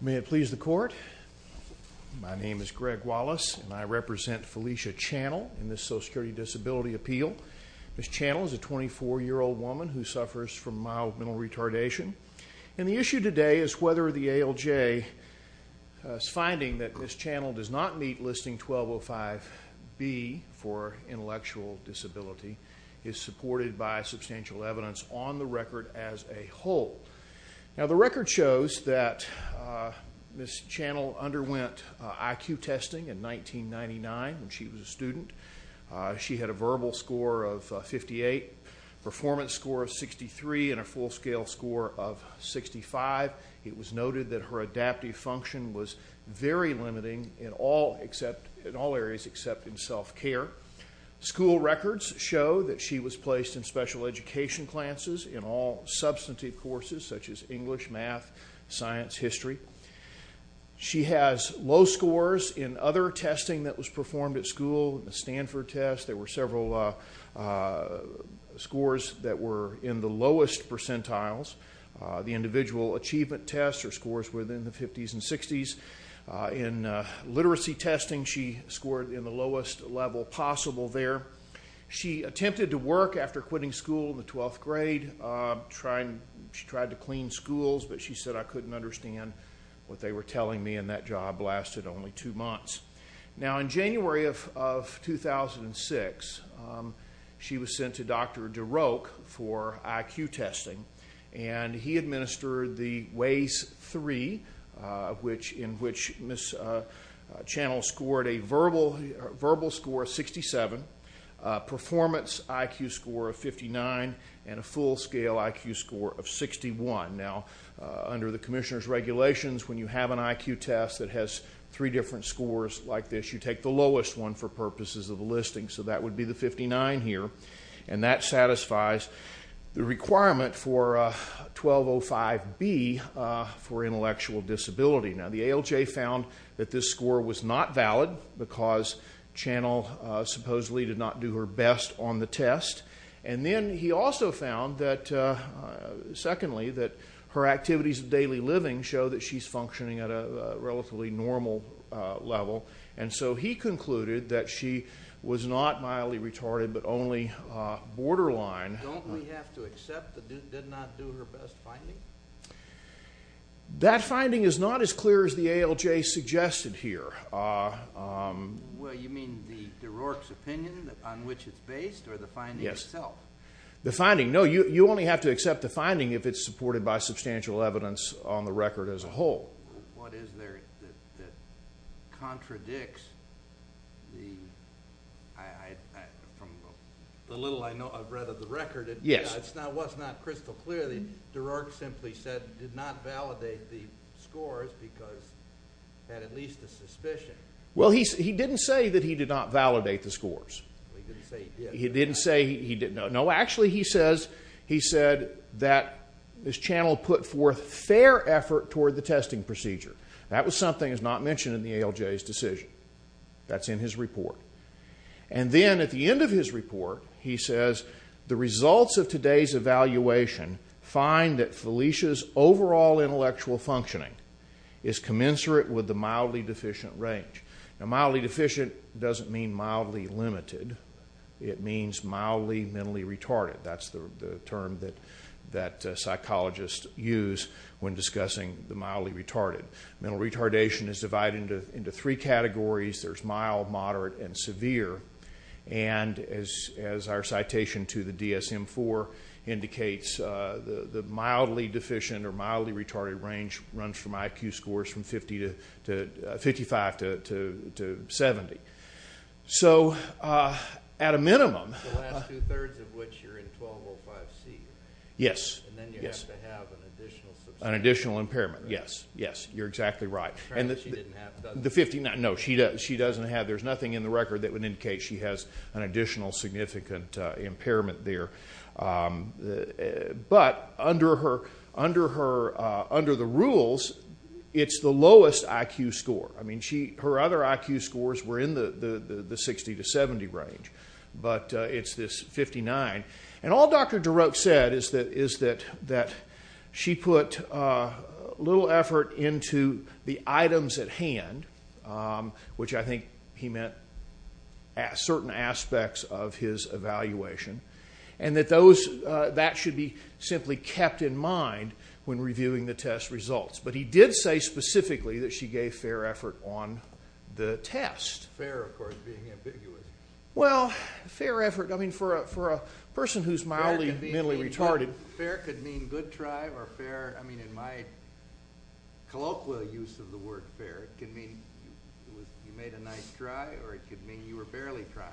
May it please the Court, my name is Greg Wallace and I represent Felecia Channell in this Social Security Disability Appeal. Ms. Channell is a 24-year-old woman who suffers from mild mental retardation and the issue today is whether the ALJ's finding that Ms. Channell does not meet Listing 1205B for intellectual disability is supported by substantial evidence on the record as a whole. Now the record shows that Ms. Channell underwent IQ testing in 1999 when she was a student. She had a verbal score of 58, performance score of 63 and a in all areas except in self-care. School records show that she was placed in special education classes in all substantive courses such as English, math, science, history. She has low scores in other testing that was performed at school, the Stanford test, there were several scores that were in the lowest percentiles, the individual achievement test or scores within the 50s and 60s. In literacy testing she scored in the lowest level possible there. She attempted to work after quitting school in the 12th grade, she tried to clean schools but she said, I couldn't understand what they were telling me and that job lasted only two months. Now in January of 2006 she was sent to Dr. DeRouche for IQ testing and he administered the Waze 3 in which Ms. Channell scored a verbal score of 67, performance IQ score of 59 and a full scale IQ score of 61. Now under the commissioner's regulations when you have an IQ test that has three different scores like this you take the lowest one for purposes of the listing so that would be the 59 here and that satisfies the requirement for 1205B for intellectual disability. Now the ALJ found that this score was not valid because Channell supposedly did not do her best on the test and then he also found that secondly that her activities of daily living show that she's functioning at a relatively normal level and so he concluded that she was not mildly retarded but only borderline. Don't we have to accept that she did not do her best finding? That finding is not as clear as the ALJ suggested here. Well you mean the DeRouche's opinion on which it's based or the finding itself? The finding, no you only have to accept the finding if it's supported by substantial evidence on the record as a whole. What is there that contradicts the little I know I've read of the record it's not crystal clear the DeRouche simply said did not validate the scores because had at least a suspicion. Well he didn't say that he did not validate the scores. He didn't say he didn't know. No actually he says he said that this Channell put forth fair effort toward the testing procedure. That was something that's not mentioned in the ALJ's decision. That's in his report and then at the end of his report he says the results of today's evaluation find that Felicia's overall intellectual functioning is commensurate with the mildly deficient range. Now mildly deficient doesn't mean mildly limited. It means mildly mentally retarded. That's the term that psychologists use when discussing the mildly retarded. Mental retardation is divided into three categories. There's mild, moderate, and severe. And as our citation to the DSM-IV indicates the mildly deficient or mildly retarded range runs from IQ scores from 55 to 70. So at a minimum. The last two thirds of which you're in 1205C. Yes. And then you have to have an additional substantial. An additional impairment. Yes. Yes. You're exactly right. The fact that she didn't have. No she doesn't have. There's nothing in the record that would indicate she has an additional significant impairment there. But under the rules it's the lowest IQ score. I mean her other IQ scores were in the 60 to 70 range. But it's this 59. And all Dr. DeRote said is that she put a little effort into the items at hand. Which I think he meant certain aspects of his evaluation. And that those, that should be simply kept in mind when reviewing the test results. But he did say specifically that she gave fair effort on the test. Fair, of course, being ambiguous. Well, fair effort. I mean for a person who's mildly, mildly retarded. Fair could mean good try or fair, I mean in my colloquial use of the word fair. It could mean you made a nice try or it could mean you were barely try.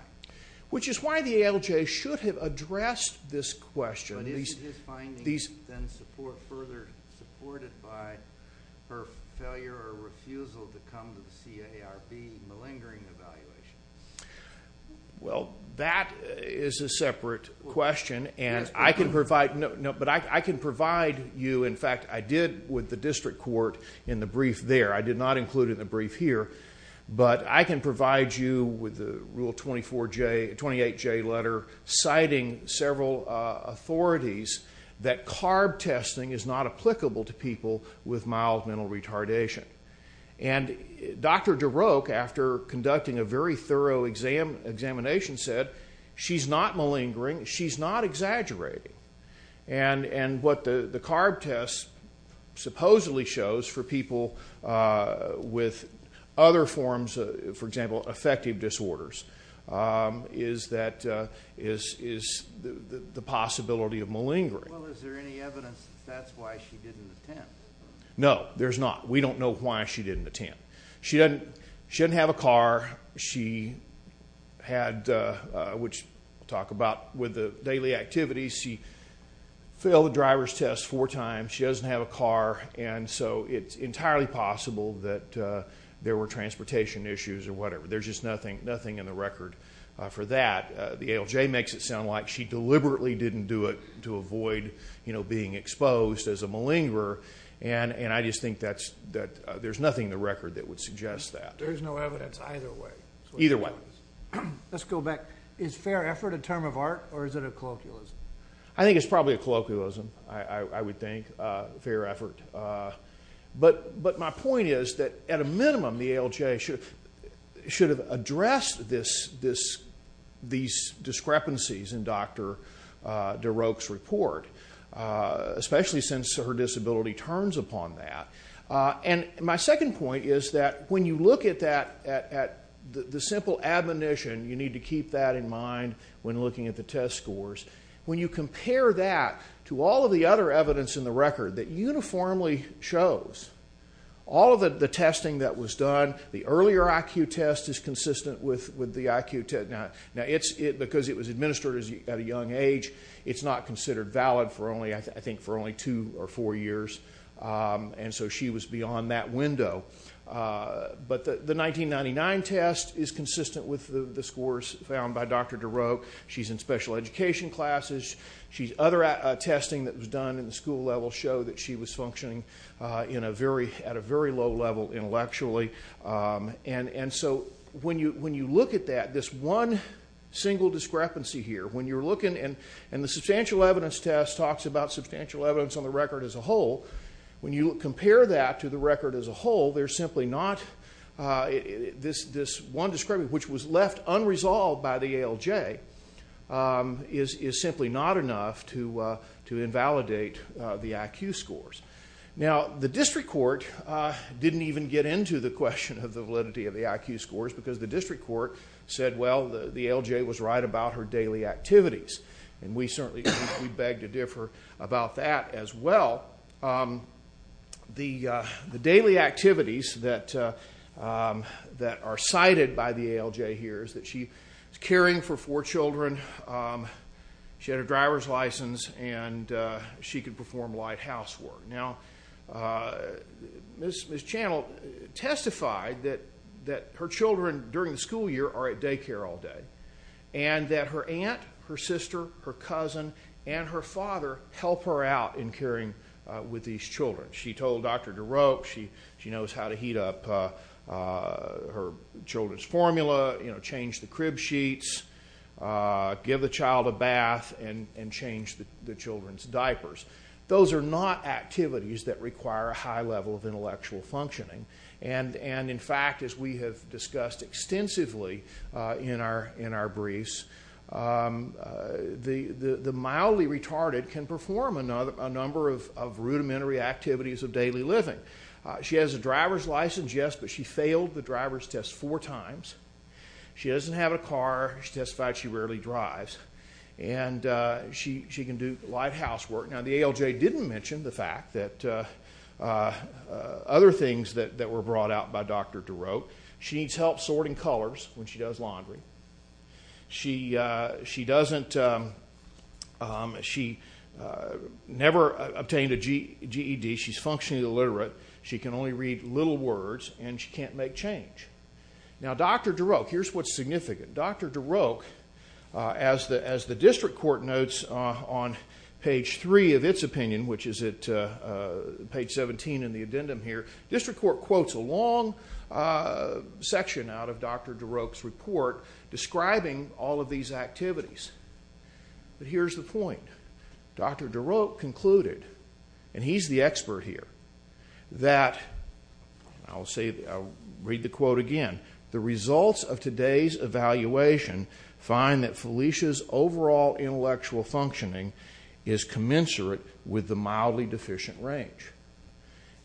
Which is why the ALJ should have addressed this question. But isn't his finding then supported by her failure or refusal to come to the CARB malingering evaluation? Well, that is a separate question. And I can provide, but I can provide you, in fact, I did with the district court in the brief there. I did not include it in the brief here. But I can provide you with the rule 24J, 28J letter citing several authorities that CARB testing is not applicable to people with mild mental retardation. And Dr. DeRoke, after conducting a very thorough examination, said she's not malingering, she's not exaggerating. And what the CARB test supposedly shows for people with other forms, for example, affective disorders, is that, is the possibility of malingering. Well, is there any evidence that that's why she didn't attempt? No, there's not. We don't know why she didn't attempt. She didn't have a car. She had, which we'll talk about with the daily activities, she failed the driver's test four times, she doesn't have a car, and so it's entirely possible that there were transportation issues or whatever. There's just nothing in the record for that. The ALJ makes it sound like she deliberately didn't do it to avoid, you know, being exposed as a malingerer. And I just think that there's nothing in the record that would suggest that. There's no evidence either way. Either way. Let's go back. Is fair effort a term of art or is it a colloquialism? I think it's probably a colloquialism, I would think, fair effort. But my point is that, at a minimum, the ALJ should have addressed this, these discrepancies in Dr. DeRouche's report, especially since her disability turns upon that. And my second point is that when you look at that, the simple admonition, you need to keep that in mind when looking at the test scores, when you compare that to all of the other evidence in the record that uniformly shows, all of the testing that was done, the earlier IQ test is consistent with the IQ test. Now, because it was administered at a young age, it's not considered valid for only, I think, for only two or four years. And so she was beyond that window. But the 1999 test is consistent with the scores found by Dr. DeRouche. She's in special education classes. Other testing that was done in the school level showed that she was functioning at a very low level intellectually. And so when you look at that, this one single discrepancy here, when you're looking, and the substantial evidence test talks about substantial evidence on the record as a whole, when you compare that to the record as a whole, there's simply not, this one discrepancy, which was left unresolved by the ALJ, is simply not enough to invalidate the IQ scores. Now, the district court didn't even get into the question of the validity of the IQ scores, because the district court said, well, the ALJ was right about her daily activities. And we certainly beg to differ about that as well. The daily activities that are cited by the ALJ here is that she was caring for four children, she had a driver's license, and she could perform light housework. Now, Ms. Channel testified that her children during the school year are at daycare all day, and that her aunt, her sister, her cousin, and her father help her out in caring with these children. She told Dr. DeRoe, she knows how to heat up her children's formula, change the crib sheets, give the child a bath, and change the children's diapers. Those are not activities that require a high level of intellectual functioning. And in fact, as we have discussed extensively in our briefs, the mildly retarded can perform a number of rudimentary activities of daily living. She has a driver's license, yes, but she failed the driver's test four times. She doesn't have a car. She testified she rarely drives. And she can do light housework. Now, the ALJ didn't mention the fact that other things that were brought out by Dr. DeRoe. She needs help sorting colors when she does laundry. She never obtained a GED. She's functionally illiterate. She can only read little words, and she can't make change. Now, Dr. DeRoe, here's what's significant. Dr. DeRoe, as the district court notes on page three of its opinion, which is at page 17 in the addendum here, district court quotes a long section out of Dr. DeRoe's report describing all of these activities. But here's the point. Dr. DeRoe concluded, and he's the expert here, that, I'll read the quote again, the results of today's evaluation find that Phylicia's overall intellectual functioning is commensurate with the mildly deficient range.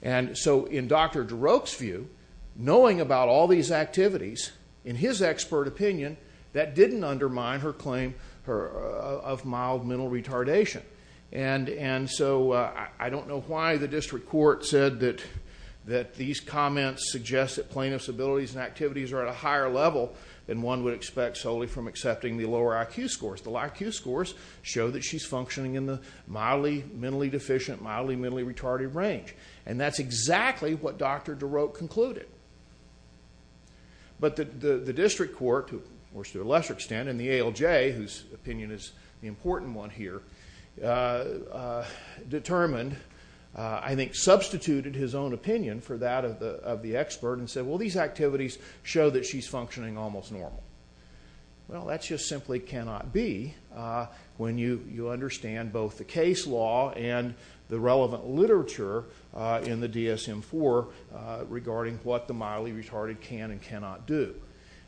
And so, in Dr. DeRoe's view, knowing about all these activities, in his expert opinion, that didn't undermine her claim of mild mental retardation. And so, I don't know why the district court said that these comments suggest that plaintiff's abilities and activities are at a higher level than one would expect solely from accepting the lower IQ scores. The low IQ scores show that she's functioning in the mildly mentally deficient, mildly mentally retarded range. And that's exactly what Dr. DeRoe concluded. But the district court, to a lesser extent, and the ALJ, whose opinion is the important one here, determined, I think substituted his own opinion for that of the expert, and said, well, these activities show that she's functioning almost normal. Well, that just simply cannot be when you understand both the case law and the relevant literature in the DSM-IV regarding what the mildly retarded can and cannot do.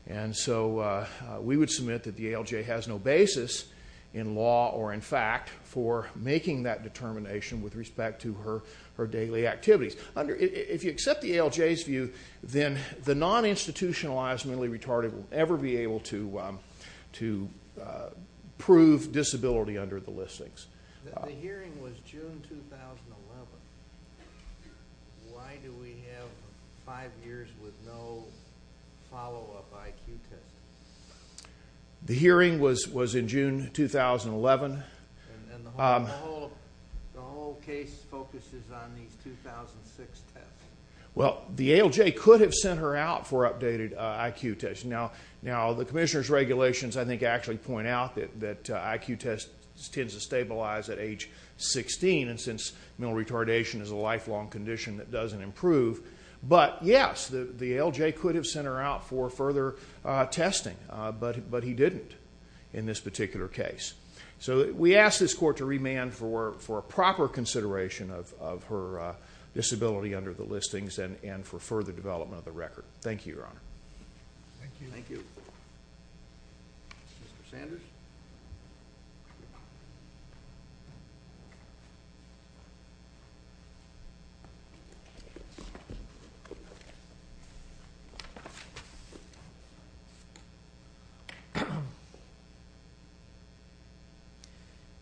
And so, we would submit that the ALJ has no basis in law or in fact for making that determination with respect to her daily activities. If you accept the ALJ's view, then the non-institutionalized mentally retarded will never be able to prove disability under the listings. The hearing was June 2011. Why do we have five years with no follow-up IQ tests? The hearing was in June 2011. And the whole case focuses on these 2006 tests? Well, the ALJ could have sent her out for updated IQ tests. Now, the commissioner's regulations, I think, actually point out that IQ tests tend to stabilize at age 16, and since mental retardation is a lifelong condition that doesn't improve. But, yes, the ALJ could have sent her out for further testing, but he didn't in this particular case. So, we ask this court to remand for a proper consideration of her disability under the listings and for further development of the record. Thank you, Your Honor. Thank you. Mr. Sanders?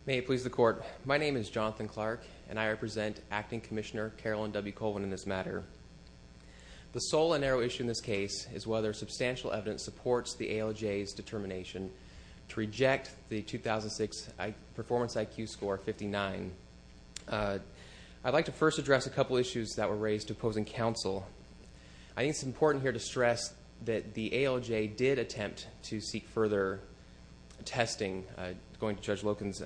May it please the court, my name is Jonathan Clark, and I represent Acting Commissioner Carolyn W. Colvin in this matter. The sole and narrow issue in this case is whether substantial evidence supports the ALJ's determination to reject the 2006 performance IQ score, 59. I'd like to first address a couple issues that were raised to opposing counsel. I think it's important here to stress that the ALJ did attempt to seek further testing. Going to Judge Loken's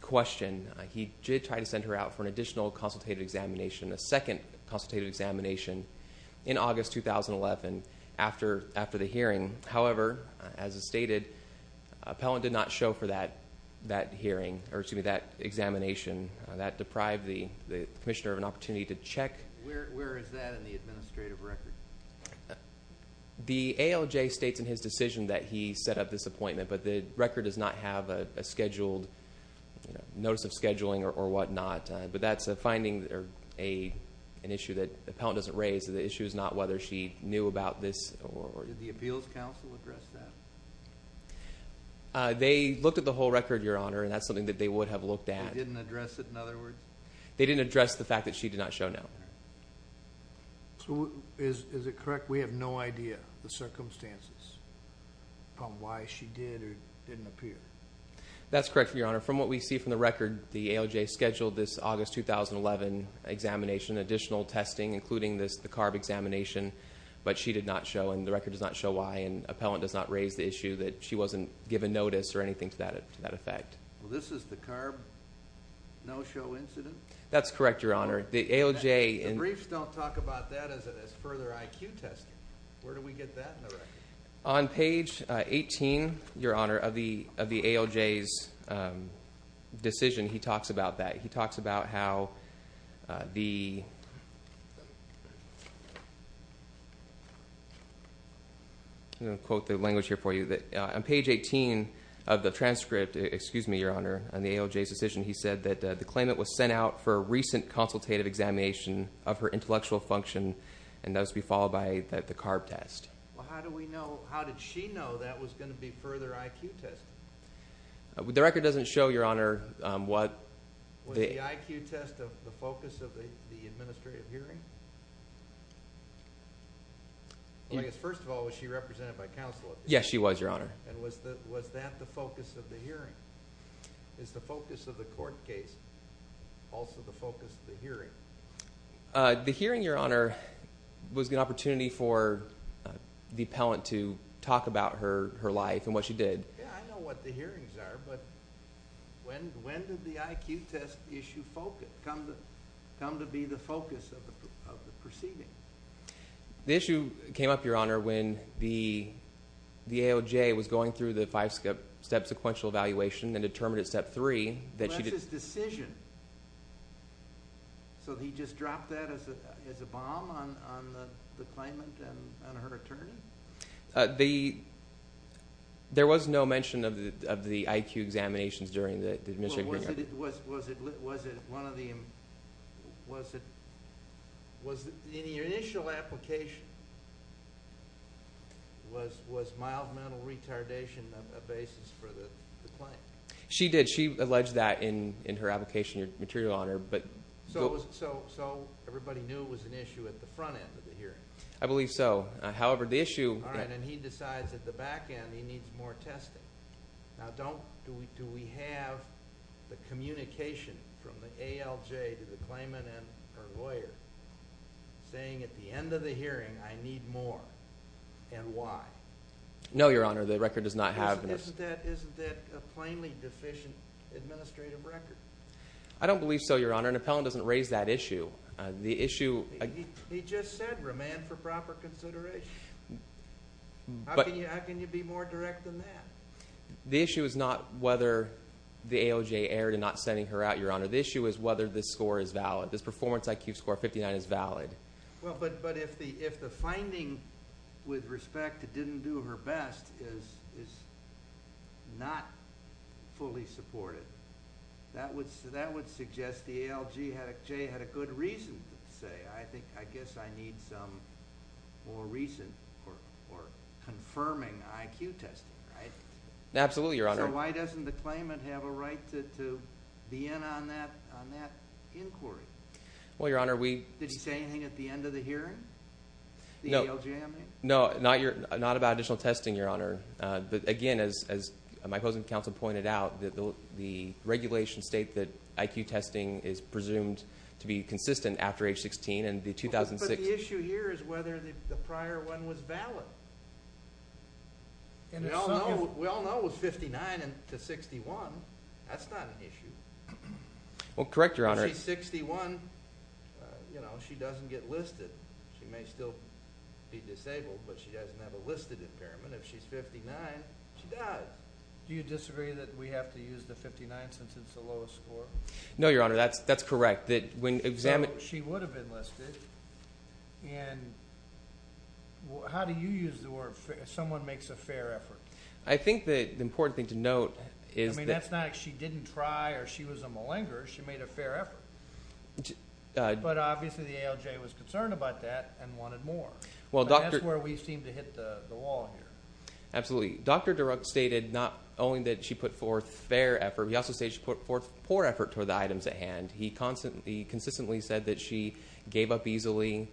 question, he did try to send her out for an additional consultative examination, a second consultative examination in August 2011 after the hearing. However, as is stated, appellant did not show for that hearing, or excuse me, that examination. That deprived the commissioner of an opportunity to check. Where is that in the administrative record? The ALJ states in his decision that he set up this appointment, but the record does not have a scheduled notice of scheduling or whatnot. But that's a finding or an issue that the appellant doesn't raise. The issue is not whether she knew about this or not. Did the appeals counsel address that? They looked at the whole record, Your Honor, and that's something that they would have looked at. They didn't address it, in other words? They didn't address the fact that she did not show no. So is it correct we have no idea, the circumstances, upon why she did or didn't appear? That's correct, Your Honor. From what we see from the record, the ALJ scheduled this August 2011 examination, additional testing, including the CARB examination, but she did not show, and the record does not show why, and appellant does not raise the issue that she wasn't given notice or anything to that effect. This is the CARB no-show incident? That's correct, Your Honor. The briefs don't talk about that as further IQ testing. Where do we get that in the record? On page 18, Your Honor, of the ALJ's decision, he talks about that. He talks about how the... I'm going to quote the language here for you. On page 18 of the transcript, excuse me, Your Honor, on the ALJ's decision, he said that the claimant was sent out for a recent consultative examination of her intellectual function and that was to be followed by the CARB test. How did she know that was going to be further IQ testing? The record doesn't show, Your Honor, what... Was the IQ test the focus of the administrative hearing? First of all, was she represented by counsel? Yes, she was, Your Honor. Was that the focus of the hearing? The hearing, Your Honor, was an opportunity for the appellant to talk about her life and what she did. I know what the hearings are, but when did the IQ test issue come to be the focus of the proceeding? The issue came up, Your Honor, when the ALJ was going through the five-step sequential evaluation and determined at step three... So he just dropped that as a bomb on the claimant and her attorney? There was no mention of the IQ examinations during the administrative hearing. Was it one of the... Was it... In your initial application, was mild mental retardation a basis for the claim? She did. She alleged that in her application material, Your Honor. So everybody knew it was an issue at the front end of the hearing? I believe so. However, the issue... All right. And he decides at the back end he needs more testing. Now, do we have the communication from the ALJ to the claimant and her lawyer saying, at the end of the hearing, I need more? And why? No, Your Honor. The record does not have... Isn't that a plainly deficient administrative record? I don't believe so, Your Honor. And Appellant doesn't raise that issue. The issue... He just said remand for proper consideration. How can you be more direct than that? The issue is not whether the ALJ erred in not sending her out, Your Honor. The issue is whether this score is valid. This performance IQ score of 59 is valid. Well, but if the finding with respect to didn't do her best is not fully supported, that would suggest the ALJ had a good reason to say, I guess I need some more recent or confirming IQ testing, right? Absolutely, Your Honor. So why doesn't the claimant have a right to be in on that inquiry? Well, Your Honor, we... Did she say anything at the end of the hearing? No. The ALJ, I mean? No, not about additional testing, Your Honor. But again, as my opposing counsel pointed out, the regulations state that IQ testing is presumed to be consistent after age 16, and the 2006... But the issue here is whether the prior one was valid. We all know it was 59 to 61. That's not an issue. Well, correct, Your Honor. If she's 61, you know, she doesn't get listed. She may still be disabled, but she doesn't have a listed impairment. If she's 59, she does. Do you disagree that we have to use the 59 since it's the lowest score? No, Your Honor. That's correct. That when examined... Well, she would have been listed. And how do you use the word someone makes a fair effort? I think the important thing to note is that... I mean, that's not like she didn't try or she was a malinger. She made a fair effort. But obviously, the ALJ was concerned about that and wanted more. That's where we seem to hit the wall here. Absolutely. Dr. Durant stated not only that she put forth fair effort, he also stated she put forth poor effort toward the items at hand. He consistently said that she gave up easily.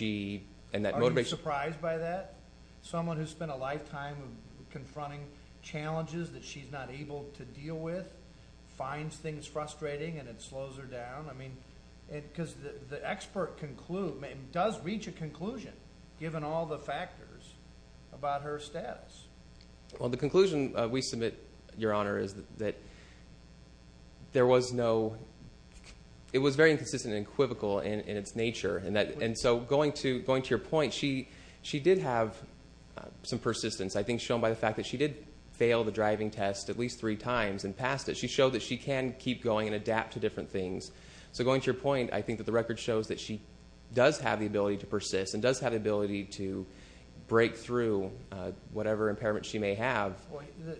Are you surprised by that? Someone who spent a lifetime confronting challenges that she's not able to deal with, finds things frustrating and it slows her down. I mean, because the expert does reach a conclusion, given all the factors about her status. Well, the conclusion we submit, Your Honor, is that there was no... It was very inconsistent and equivocal in its nature. And so, going to your point, she did have some persistence. I think shown by the fact that she did fail the driving test at least three times and passed it, she showed that she can keep going and adapt to different things. So, going to your point, I think that the record shows that she does have the ability to persist and does have the ability to break through whatever impairment she may have.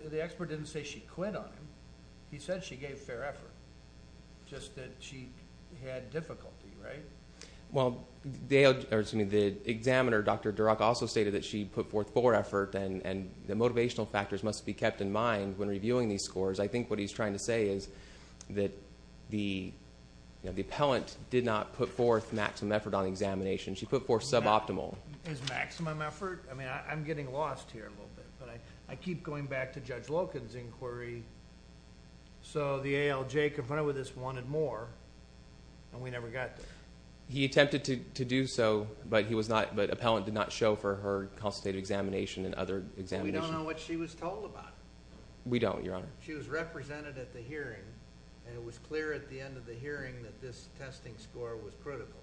The expert didn't say she quit on him. He said she gave fair effort. Just that she had difficulty, right? Well, the examiner, Dr. Durant, also stated that she put forth poor effort and the motivational factors must be kept in mind when reviewing these scores. I think what he's trying to say is that the appellant did not put forth maximum effort on examination. She put forth suboptimal. Is maximum effort? I mean, I'm getting lost here a little bit. But I keep going back to Judge Loken's inquiry. So, the ALJ confronted with this wanted more and we never got there. He attempted to do so, but he was not... But appellant did not show for her constitutive examination and other examinations. We don't know what she was told about. We don't, Your Honor. She was represented at the hearing and it was clear at the end of the hearing that this testing score was critical.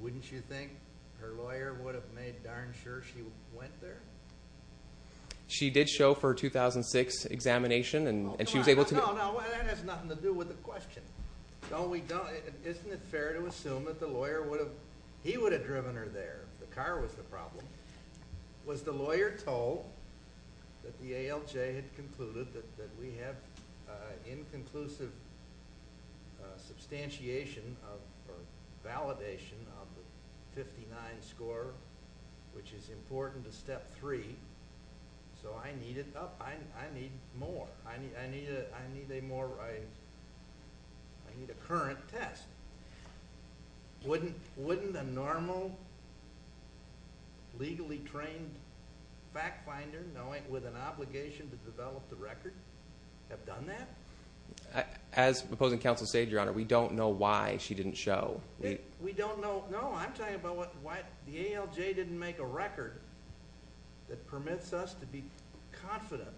Wouldn't you think her lawyer would have made darn sure she went there? She did show for a 2006 examination and she was able to... No, no, that has nothing to do with the question. Don't we... Isn't it fair to assume that the lawyer would have... He would have driven her there. The car was the problem. Was the lawyer told that the ALJ had concluded that we have inconclusive substantiation or validation of the 59 score, which is important to Step 3, so I need more. I need a more... I need a current test. Wouldn't a normal, legally trained fact finder, with an obligation to develop the record, have done that? As opposing counsel stated, Your Honor, we don't know why she didn't show. We don't know... No, I'm talking about why the ALJ didn't make a record that permits us to be confident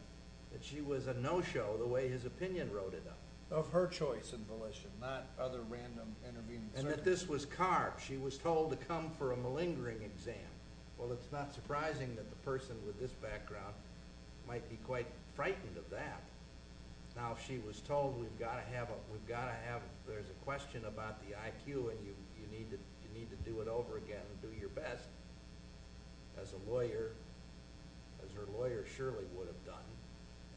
that she was a no-show the way his opinion wrote it up. Of her choice and volition, not other random intervening... And that this was carved. She was told to come for a malingering exam. Well, it's not surprising that the person with this background might be quite frightened of that. Now, if she was told we've got to have... There's a question about the IQ and you need to do it over again, do your best. As a lawyer, as her lawyer surely would have done,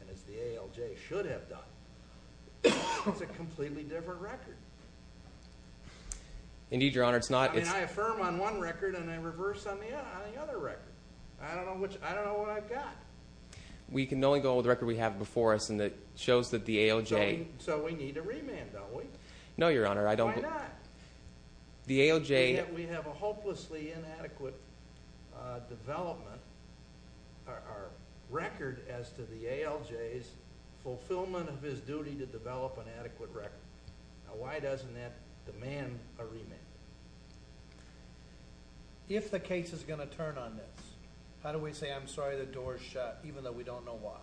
and as the ALJ should have done, it's a completely different record. Indeed, Your Honor, it's not... I mean, I affirm on one record and I reverse on the other record. I don't know which... I don't know what I've got. We can only go with the record we have before us and it shows that the ALJ... So we need to remand, don't we? No, Your Honor, I don't... Why not? The ALJ... And yet we have a hopelessly inadequate development, our record as to the ALJ's fulfillment of his duty to develop an adequate record. Now, why doesn't that demand a remand? If the case is going to turn on this, how do we say I'm sorry the door is shut even though we don't know why?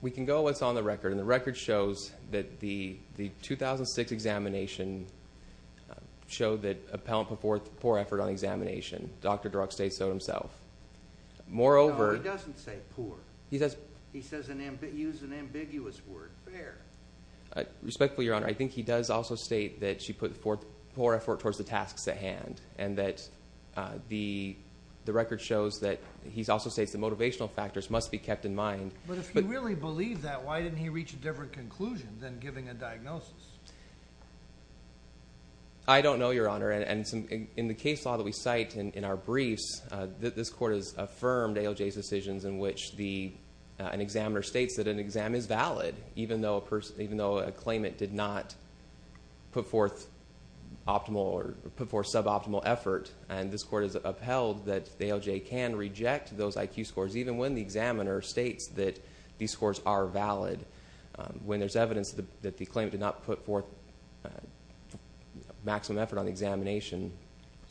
We can go with what's on the record and the record shows that the 2006 examination showed that appellant put forth poor effort on the examination. Dr. Druck states so himself. Moreover... No, he doesn't say poor. He says... He says an... He used an ambiguous word, fair. Respectfully, Your Honor, I think he does also state that she put poor effort towards the tasks at hand and that the record shows that... He also states the motivational factors must be kept in mind. But if you really believe that, why didn't he reach a different conclusion than giving a diagnosis? I don't know, Your Honor. In the case law that we cite in our briefs, this Court has affirmed ALJ's decisions in which an examiner states that an exam is valid even though a claimant did not put forth optimal or put forth suboptimal effort. And this Court has upheld that the ALJ can reject those IQ scores even when the examiner states that these scores are valid. When there's evidence that the claimant did not put forth maximum effort on the examination...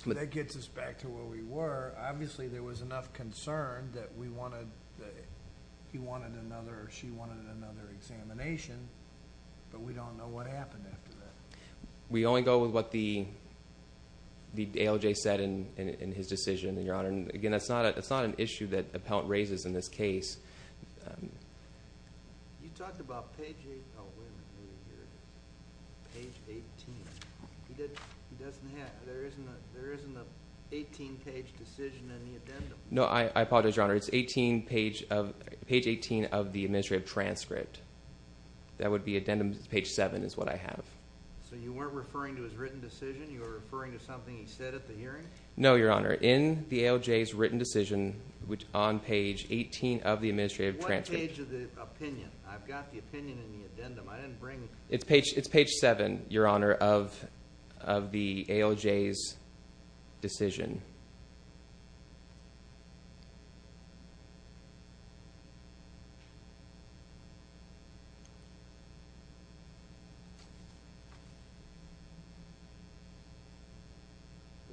That gets us back to where we were. Obviously, there was enough concern that we wanted... He wanted another or she wanted another examination, but we don't know what happened after that. We only go with what the ALJ said in his decision, Your Honor. Again, it's not an issue that appellant raises in this case. You talked about page... Oh, wait a minute. Page 18. He doesn't have... There isn't an 18-page decision in the addendum. No, I apologize, Your Honor. It's page 18 of the administrative transcript. That would be addendum page 7 is what I have. So you weren't referring to his written decision? You were referring to something he said at the hearing? No, Your Honor. In the ALJ's written decision on page 18 of the administrative transcript. What page of the opinion? I've got the opinion in the addendum. I didn't bring... It's page 7, Your Honor, of the ALJ's decision.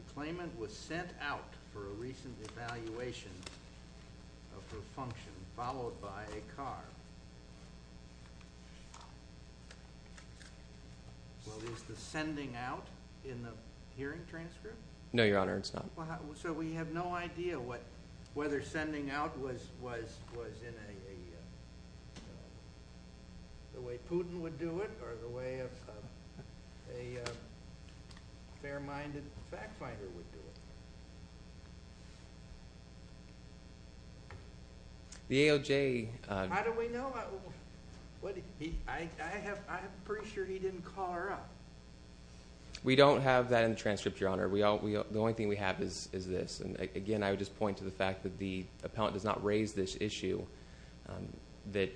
The claimant was sent out for a recent evaluation of her function, followed by a car. Well, is the sending out in the hearing transcript? No, Your Honor, it's not. It's not in the hearing transcript? No, Your Honor. So we have no idea whether sending out was in a... the way Putin would do it, or the way a fair-minded fact-finder would do it. The ALJ... How do we know? I'm pretty sure he didn't call her up. We don't have that in the transcript, Your Honor. The only thing we have is this. And again, I would just point to the fact that the appellant does not raise this issue, that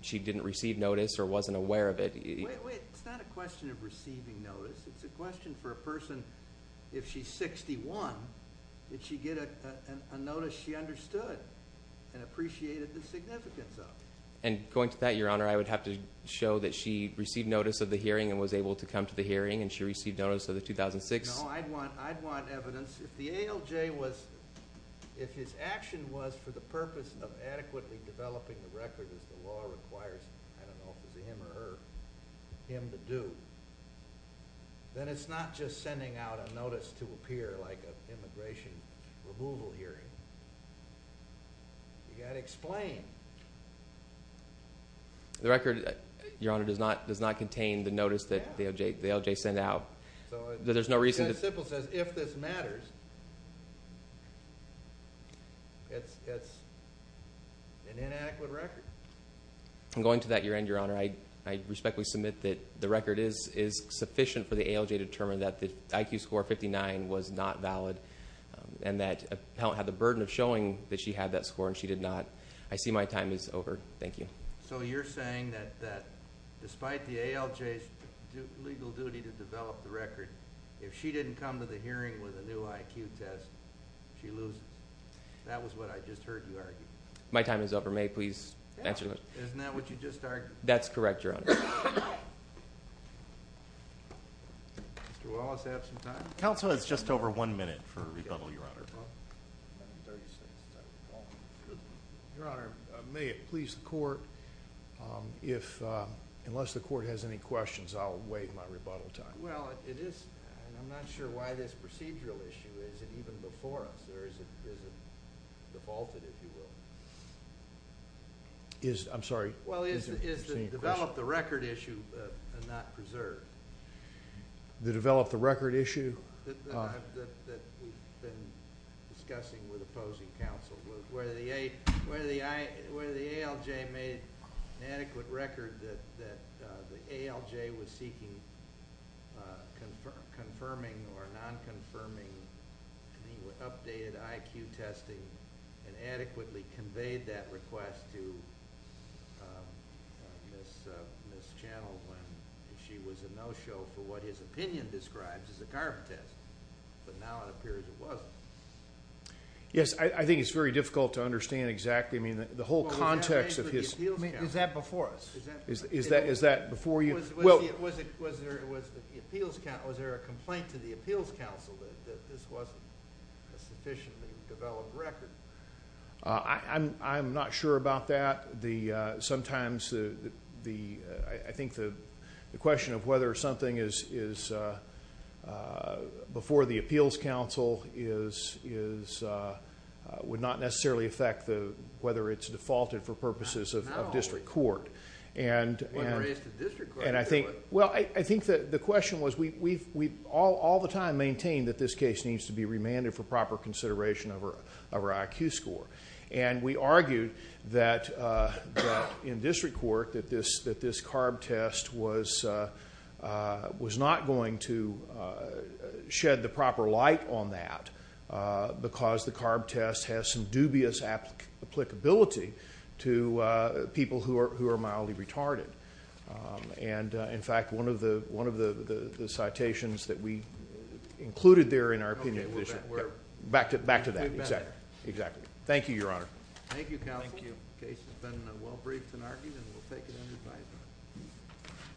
she didn't receive notice or wasn't aware of it. Wait, wait. It's not a question of receiving notice. It's a question for a person, if she's 61, did she get a notice she understood and appreciated the significance of? And going to that, Your Honor, I would have to show that she received notice of the hearing and was able to come to the hearing, and she received notice of the 2006... No, I'd want evidence. If the ALJ was... If his action was for the purpose of adequately developing the record, as the law requires, I don't know if it was him or her, him to do, then it's not just sending out a notice to appear like an immigration removal hearing. You've got to explain. The record, Your Honor, does not contain the notice that the ALJ sent out. There's no reason... As simple as if this matters, it's an inadequate record. And going to that, Your Honor, I respectfully submit that the record is sufficient for the ALJ to determine that the IQ score of 59 was not valid and that Appellant had the burden of showing that she had that score and she did not. I see my time is over. Thank you. So you're saying that despite the ALJ's legal duty to develop the record, if she didn't come to the hearing with a new IQ test, she loses? That was what I just heard you argue. My time is over. May I please answer? Isn't that what you just argued? That's correct, Your Honor. Mr. Wallace, do you have some time? Counsel, it's just over one minute for a rebuttal, Your Honor. Your Honor, may it please the Court, unless the Court has any questions, I'll wait my rebuttal time. I'm not sure why this procedural issue isn't even before us. Or is it defaulted, if you will? I'm sorry? Well, is the develop the record issue not preserved? The develop the record issue? That we've been discussing with opposing counsel. Whether the ALJ made an adequate record that the ALJ was seeking confirming or non-confirming updated IQ testing and adequately conveyed that request to Ms. Channell when she was a no-show for what his opinion describes as a carbon test. But now it appears it wasn't. Yes, I think it's very difficult to understand exactly. Is that before us? Is that before you? Was there a complaint to the appeals counsel that this wasn't a sufficiently developed record? I'm not sure about that. Sometimes the... I think the question of whether something is before the appeals counsel would not necessarily affect whether it's defaulted for purposes of district court. I think the question was we all the time maintain that this case needs to be remanded for proper consideration of our IQ score. And we argued that in district court that this carb test was not going to shed the proper light on that because the carb test has some dubious applicability to people who are mildly retarded. And in fact, one of the citations that we included there in our opinion... Back to that. Exactly. Thank you, Your Honor. Thank you, counsel. The case has been well-briefed and argued.